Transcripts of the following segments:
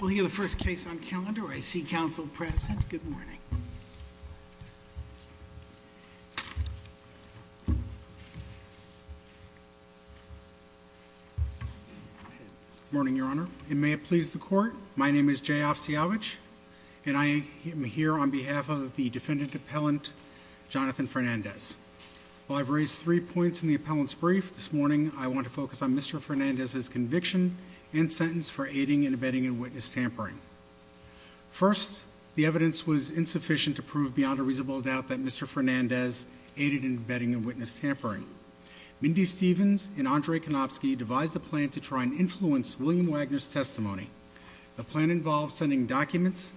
We'll hear the first case on calendar. I see counsel present. Good morning. Morning, Your Honor. It may please the court. My name is J off Seavage and I am here on behalf of the defendant appellant Jonathan Fernandez. I've raised three points in the appellant's brief this morning. I want to focus on abetting and witness tampering. First, the evidence was insufficient to prove beyond a reasonable doubt that Mr Fernandez aided in betting and witness tampering. Mindy Stevens and Andre Konopsky devised a plan to try and influence William Wagner's testimony. The plan involves sending documents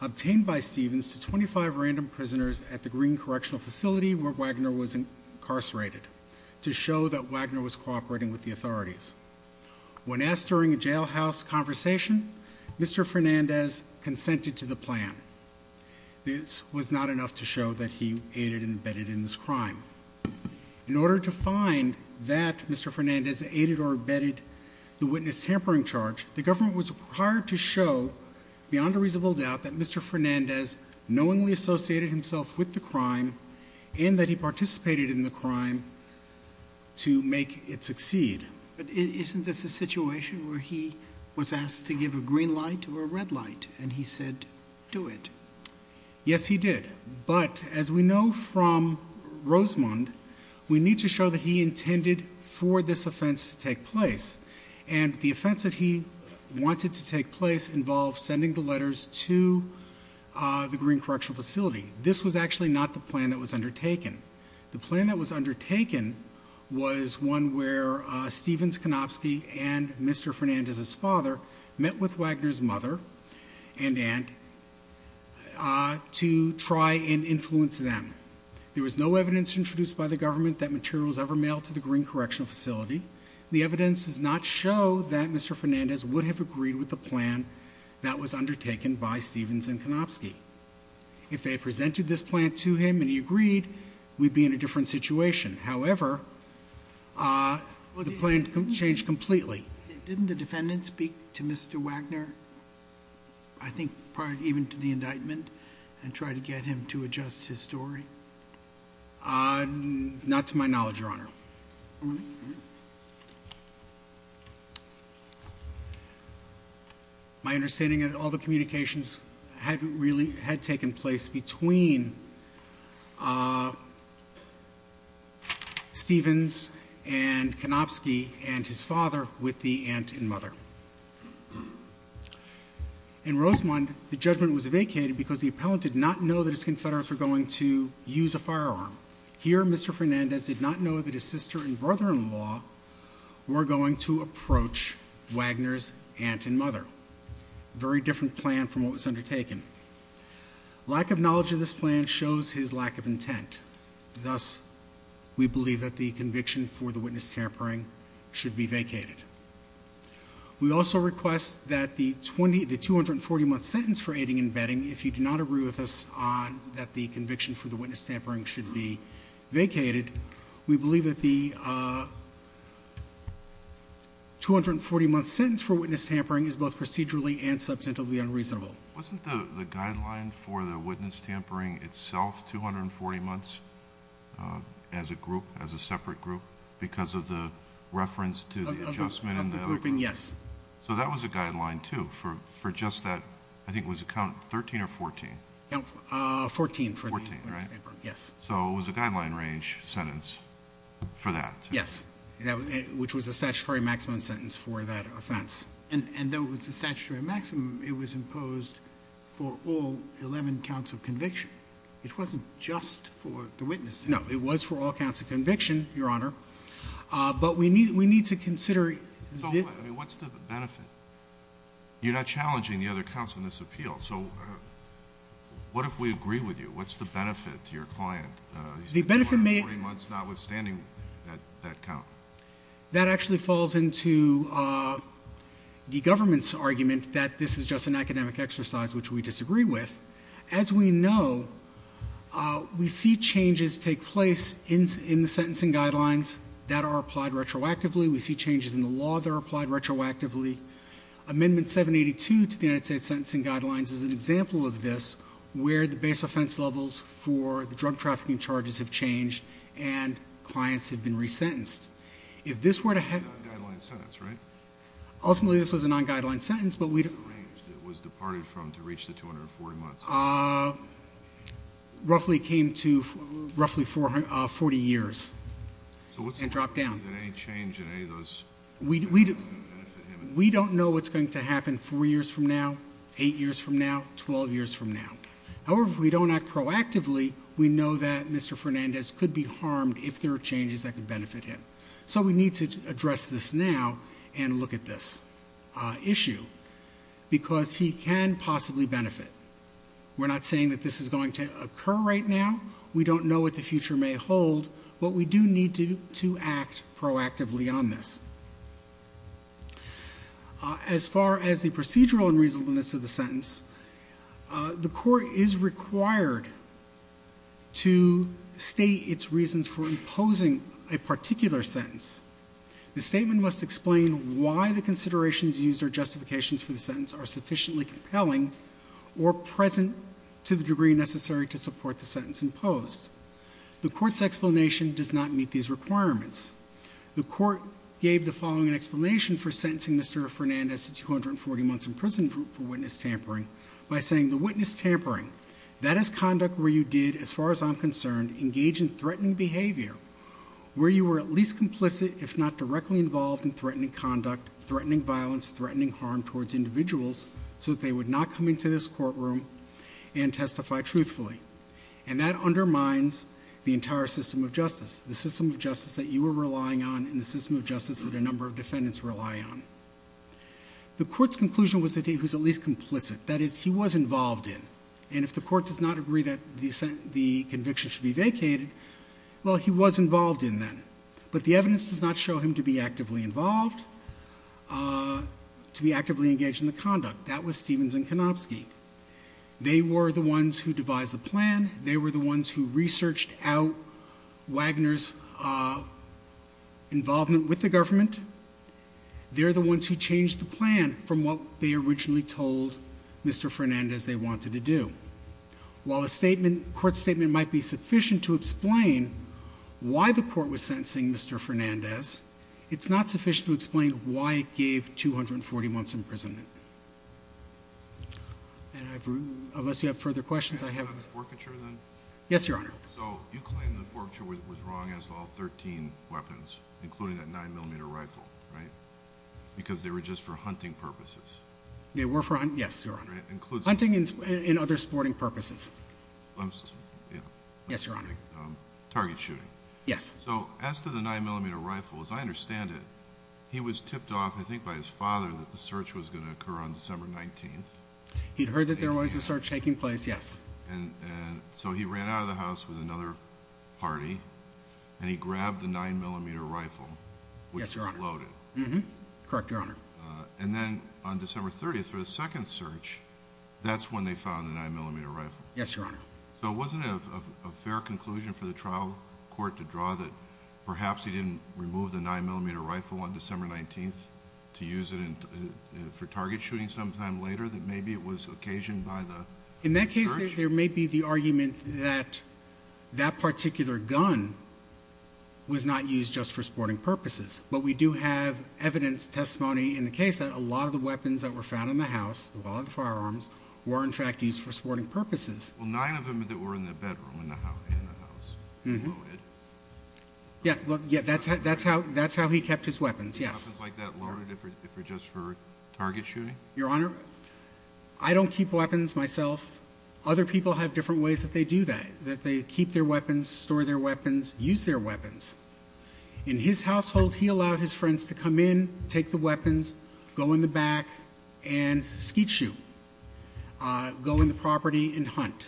obtained by Stevens to 25 random prisoners at the Green Correctional facility where Wagner was incarcerated to show that Wagner was cooperating with the authorities. When asked during a jailhouse conversation, Mr Fernandez consented to the plan. This was not enough to show that he aided and abetted in this crime. In order to find that Mr Fernandez aided or abetted the witness tampering charge, the government was prior to show beyond a reasonable doubt that Mr Fernandez knowingly associated himself with the Isn't this a situation where he was asked to give a green light or a red light and he said, do it? Yes, he did. But as we know from Rosemond, we need to show that he intended for this offense to take place. And the offense that he wanted to take place involves sending the letters to the Green Correctional facility. This was actually not the plan that was undertaken. The Stevens, Konopsky and Mr Fernandez's father met with Wagner's mother and and uh, to try and influence them. There was no evidence introduced by the government that materials ever mailed to the Green Correctional facility. The evidence does not show that Mr Fernandez would have agreed with the plan that was undertaken by Stevens and Konopsky. If they presented this plan to him and he agreed, we'd be in a different situation. However, uh, the plan changed completely. Didn't the defendant speak to Mr Wagner? I think part even to the indictment and try to get him to adjust his story. Uh, not to my knowledge, Your Honor. My understanding of all the communications had really had taken place between, uh, Stevens and Konopsky and his father with the aunt and mother in Rosemont. The judgment was vacated because the appellant did not know that his confederates were going to use a firearm here. Mr Fernandez did not know that his sister and brother in law were going to approach Wagner's aunt and mother. Very different plan from what was undertaken. Lack of knowledge of this plan shows his lack of intent. Thus, we believe that the conviction for the witness tampering should be vacated. We also request that the 20, the 240 month sentence for aiding and betting. If you do not agree with us on that, the conviction for the witness tampering should be vacated. We believe that the, uh, 240 month sentence for witness tampering is both procedurally and procedurally. So the guideline for the witness tampering itself, 240 months, uh, as a group, as a separate group because of the reference to the adjustment of the grouping. Yes. So that was a guideline to for, for just that, I think it was a count 13 or 14, 14, 14, right? Yes. So it was a guideline range sentence for that. Yes. Which was a statutory maximum sentence for that offense. And there was a statutory maximum. It was imposed for all 11 counts of conviction. It wasn't just for the witness. No, it was for all counts of conviction, your honor. But we need, we need to consider what's the benefit? You're not challenging the other counts in this appeal. So what if we agree with you? What's the benefit to your client? The benefit may months notwithstanding that count that actually falls into, uh, the government's argument that this is just an academic exercise, which we disagree with. As we know, uh, we see changes take place in, in the sentencing guidelines that are applied retroactively. We see changes in the law that are applied retroactively. Amendment 782 to the United States Sentencing Guidelines is an example of this, where the base offense levels for the drug trafficking charges have changed and clients have been resentenced. If this were to have a guideline sentence, right? Ultimately, this was a non guideline sentence, but we arranged it was departed from to reach the 240 months. Uh, roughly came to roughly 440 years. So what's dropped down? Any change in any of those? We don't know what's going to happen four years from now, eight years from now, 12 years from now. However, if we don't act proactively, we know that Mr Fernandez could be harmed if there are changes that could benefit him. So we need to address this now and look at this issue because he can possibly benefit. We're not saying that this is going to occur right now. We don't know what the future may hold, but we do need to to act proactively on this. As far as the procedural and reasonableness of the sentence, uh, the particular sentence, the statement must explain why the considerations user justifications for the sentence are sufficiently compelling or present to the degree necessary to support the sentence imposed. The court's explanation does not meet these requirements. The court gave the following an explanation for sentencing Mr Fernandez to 240 months in prison for witness tampering by saying the witness tampering, that is conduct where you did, as far as I'm concerned, engage in threatening behavior where you were at least complicit, if not directly involved in threatening conduct, threatening violence, threatening harm towards individuals so that they would not come into this courtroom and testify truthfully. And that undermines the entire system of justice, the system of justice that you were relying on in the system of justice that a number of defendants rely on. The court's conclusion was that he was at least complicit. That is, he was involved in. And if the court does not agree that the conviction should be vacated, well, he was involved in that, but the evidence does not show him to be actively involved, uh, to be actively engaged in the conduct that was Stevens and Konopsky. They were the ones who devised the plan. They were the ones who researched out Wagner's, uh, involvement with the government. They're the ones who changed the plan from what they originally told Mr Fernandez they wanted to do. While a statement court statement might be sufficient to explain why the court was sentencing Mr Fernandez, it's not sufficient to explain why it gave 240 months imprisonment. And I've, unless you have further questions, I have forfeiture then. Yes, Your Honor. So you claim the forfeiture was wrong as well. 13 weapons, including that nine millimeter rifle, right? Because they were just for in other sporting purposes. Yes, Your Honor. Target shooting. Yes. So as to the nine millimeter rifle, as I understand it, he was tipped off, I think, by his father that the search was gonna occur on December 19th. He'd heard that there was a search taking place. Yes. And so he ran out of the house with another party and he grabbed the nine millimeter rifle. Yes, Your Honor. Loaded. Correct, Your Honor. And then on December 30th for the second search, that's when they found the nine millimeter rifle. Yes, Your Honor. So it wasn't a fair conclusion for the trial court to draw that perhaps he didn't remove the nine millimeter rifle on December 19th to use it for target shooting sometime later that maybe it was occasioned by the in that case, there may be the argument that that particular gun was not used just for sporting purposes. But we do have evidence testimony in the case that a lot of firearms were in fact used for sporting purposes. Well, nine of them that were in the bedroom in the house. Yeah. Well, yeah, that's how that's how that's how he kept his weapons. Yes. Like that. Lord, if you're just for target shooting, Your Honor, I don't keep weapons myself. Other people have different ways that they do that, that they keep their weapons, store their weapons, use their weapons in his household. He allowed his friends to go in the property and hunt,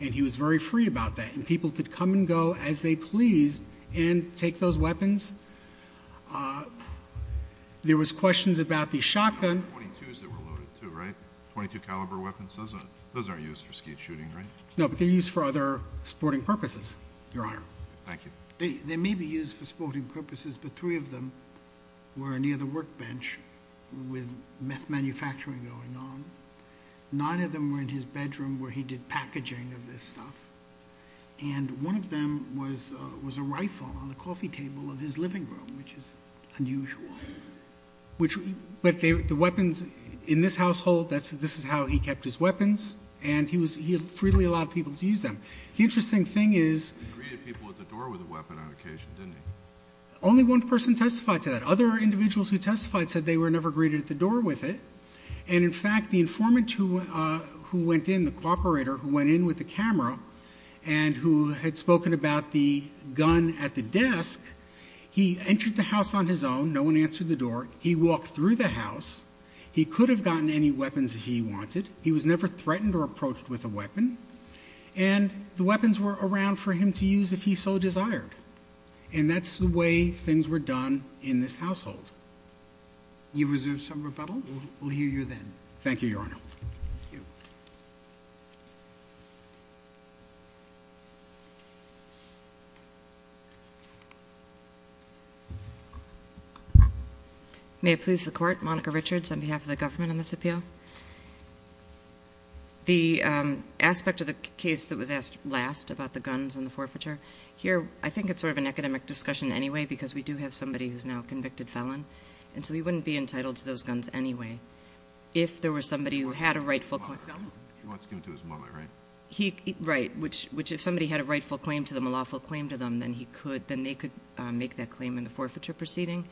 and he was very free about that. And people could come and go as they pleased and take those weapons. Uh, there was questions about the shotgun. 22 is that we're loaded to write 22 caliber weapons. Those are those are used for skeet shooting, right? No, but they're used for other sporting purposes. Your Honor. Thank you. They may be used for sporting purposes, but three of them were near the workbench with manufacturing going on. Nine of them were in his bedroom where he did packaging of this stuff, and one of them was was a rifle on the coffee table of his living room, which is unusual, which but the weapons in this household, that's this is how he kept his weapons, and he was he freely allowed people to use them. The interesting thing is greeted people at the door with a weapon on occasion, didn't only one person testified to that. Other individuals who testified said they were never greeted at the door with it. And in fact, the informant who went in the cooperator who went in with the camera and who had spoken about the gun at the desk, he entered the house on his own. No one answered the door. He walked through the house. He could have gotten any weapons he wanted. He was never threatened or approached with a weapon, and the weapons were around for him to use if he so desired. And that's the way things were done in this household. You've reserved some rebuttal. We'll hear you then. Thank you, Your Honor. May it please the court. Monica Richards on behalf of the government on this appeal. The aspect of the case that was asked last about the guns in the forfeiture here. I think it's sort of an academic discussion anyway, because we do have somebody who's now convicted felon, and so he wouldn't be entitled to those guns anyway. If there was somebody who had a rightful claim to his wallet, right? Right, which if somebody had a rightful claim to them, a lawful claim to them, then they could make that claim in the forfeiture proceeding.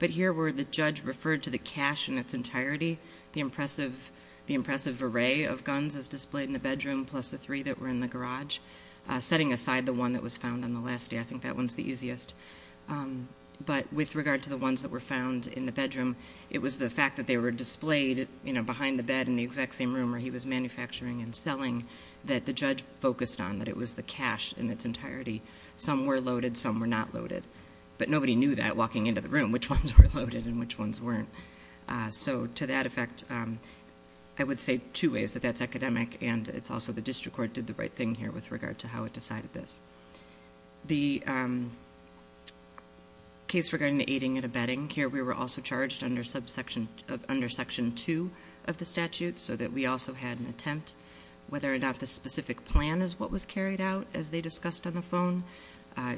But here, where the judge referred to the cash in its entirety, the impressive array of guns is displayed in the bedroom, plus the three that were in the garage, setting aside the one that was found on the last day. I think that one's the easiest. But with regard to the ones that were found in the bedroom, it was the fact that they were displayed behind the bed in the exact same room where he was manufacturing and selling, that the judge focused on, that it was the cash in its entirety. Some were loaded, some were not loaded. But nobody knew that walking into the room, which ones were loaded and which ones weren't. So to that effect, I would say two ways, that that's academic, and it's also the district court did the right thing here with regard to how it decided this. The case regarding the aiding and abetting, here we were also charged under section two of the statute, so that we also had an attempt. Whether or not the specific plan is what was carried out, as they discussed on the phone,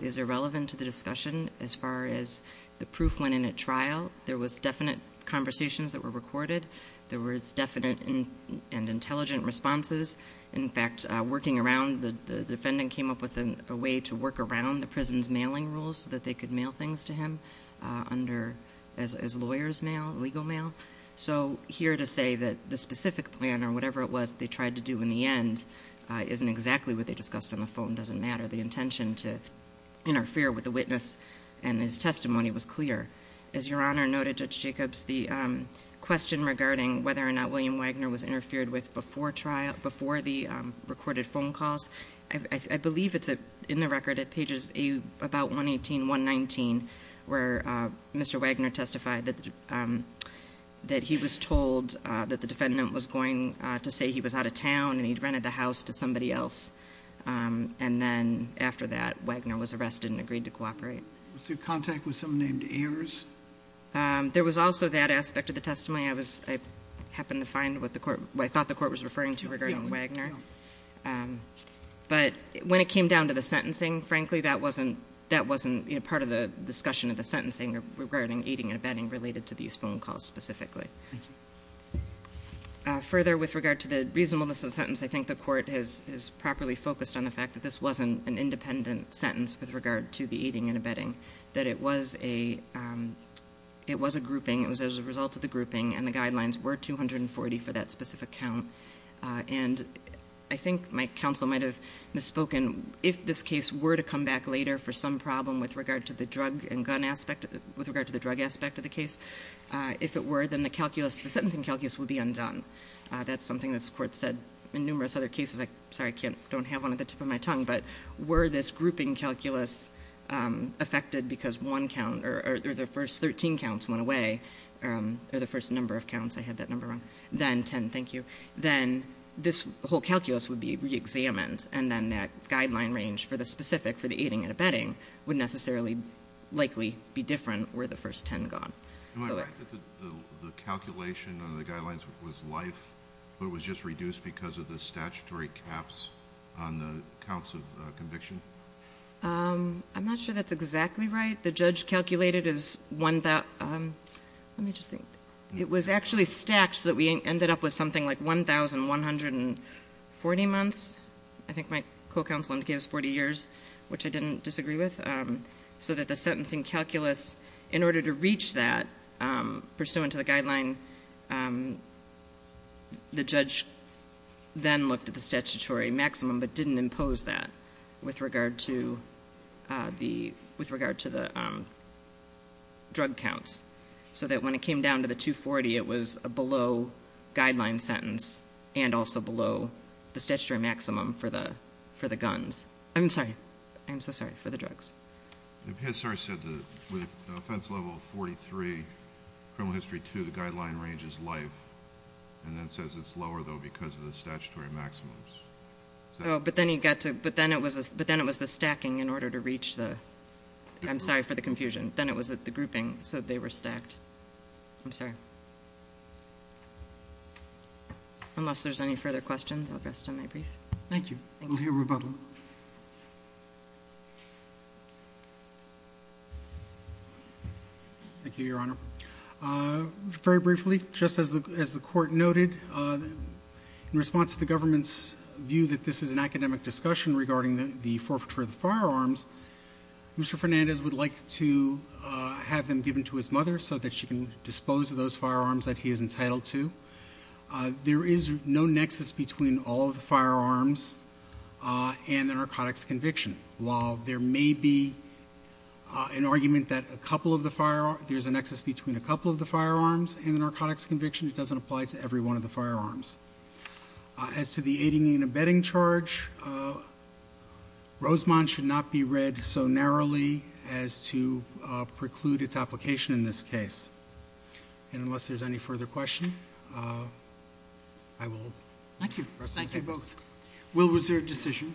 is irrelevant to the discussion. As far as the proof went in at trial, there was definite conversations that were recorded, there was definite and intelligent responses. In fact, working around, the defendant came up with a way to work around the prison's mailing rules, so that they could mail things to him under... As lawyers mail, legal mail. So here to say that the specific plan or whatever it was they tried to do in the end, isn't exactly what they discussed on the phone, doesn't matter. The intention to interfere with the witness and his testimony was clear. As Your Honor noted, Judge Jacobs, the question regarding whether or not there were reported phone calls, I believe it's in the record at pages about 118, 119, where Mr. Wagner testified that he was told that the defendant was going to say he was out of town and he'd rented the house to somebody else. And then after that, Wagner was arrested and agreed to cooperate. Was there contact with someone named Ayers? There was also that aspect of the testimony, I happened to find what the court... What I thought the court was referring to regarding Mr. Wagner. But when it came down to the sentencing, frankly, that wasn't part of the discussion of the sentencing regarding aiding and abetting related to these phone calls specifically. Further, with regard to the reasonableness of the sentence, I think the court has properly focused on the fact that this wasn't an independent sentence with regard to the aiding and abetting, that it was a grouping, it was as a result of the grouping and the guidelines were 240 for that specific count. And I think my counsel might have misspoken, if this case were to come back later for some problem with regard to the drug and gun aspect, with regard to the drug aspect of the case, if it were, then the calculus, the sentencing calculus would be undone. That's something that's court said in numerous other cases. Sorry, I don't have one at the tip of my tongue, but were this grouping calculus affected because one count or the first 13 counts went away or the first number of counts, I had that number wrong, then 10, thank you, then this whole calculus would be re-examined and then that guideline range for the specific, for the aiding and abetting, would necessarily likely be different were the first 10 gone. Am I right that the calculation on the guidelines was life, but it was just reduced because of the statutory caps on the counts of conviction? I'm not sure that's exactly right. The judge calculated as one that, let me just think, it was actually stacked so that we ended up with something like 1,140 months, I think my co-counsel gave us 40 years, which I didn't disagree with, so that the sentencing calculus, in order to reach that, pursuant to the guideline, the judge then looked at the statutory maximum, but with regard to the drug counts, so that when it came down to the 240, it was a below guideline sentence and also below the statutory maximum for the guns. I'm sorry, I'm so sorry, for the drugs. The PSR said that with offense level 43, criminal history 2, the guideline range is life, and then says it's lower, though, because of the statutory maximums. But then it was the stacking in order to reach the, I'm sorry for the confusion, then it was the grouping, so they were stacked. I'm sorry. Unless there's any further questions, I'll rest on my brief. Thank you. We'll hear rebuttal. Thank you, Your Honor. Very briefly, just as the Court noted, in response to the government's view that this is an academic discussion regarding the forfeiture of the firearms, Mr. Fernandez would like to have them given to his mother so that she can dispose of those firearms that he is entitled to. There is no nexus between all of the firearms and the narcotics conviction. While there may be an argument that there's a nexus between a couple of the firearms and the narcotics conviction, it doesn't apply to every one of the firearms. As to the aiding and abetting charge, Rosemont should not be read so narrowly as to preclude its application in this case. Unless there's any further question, I will rest on my brief. Thank you. Thank you both. We'll reserve decision.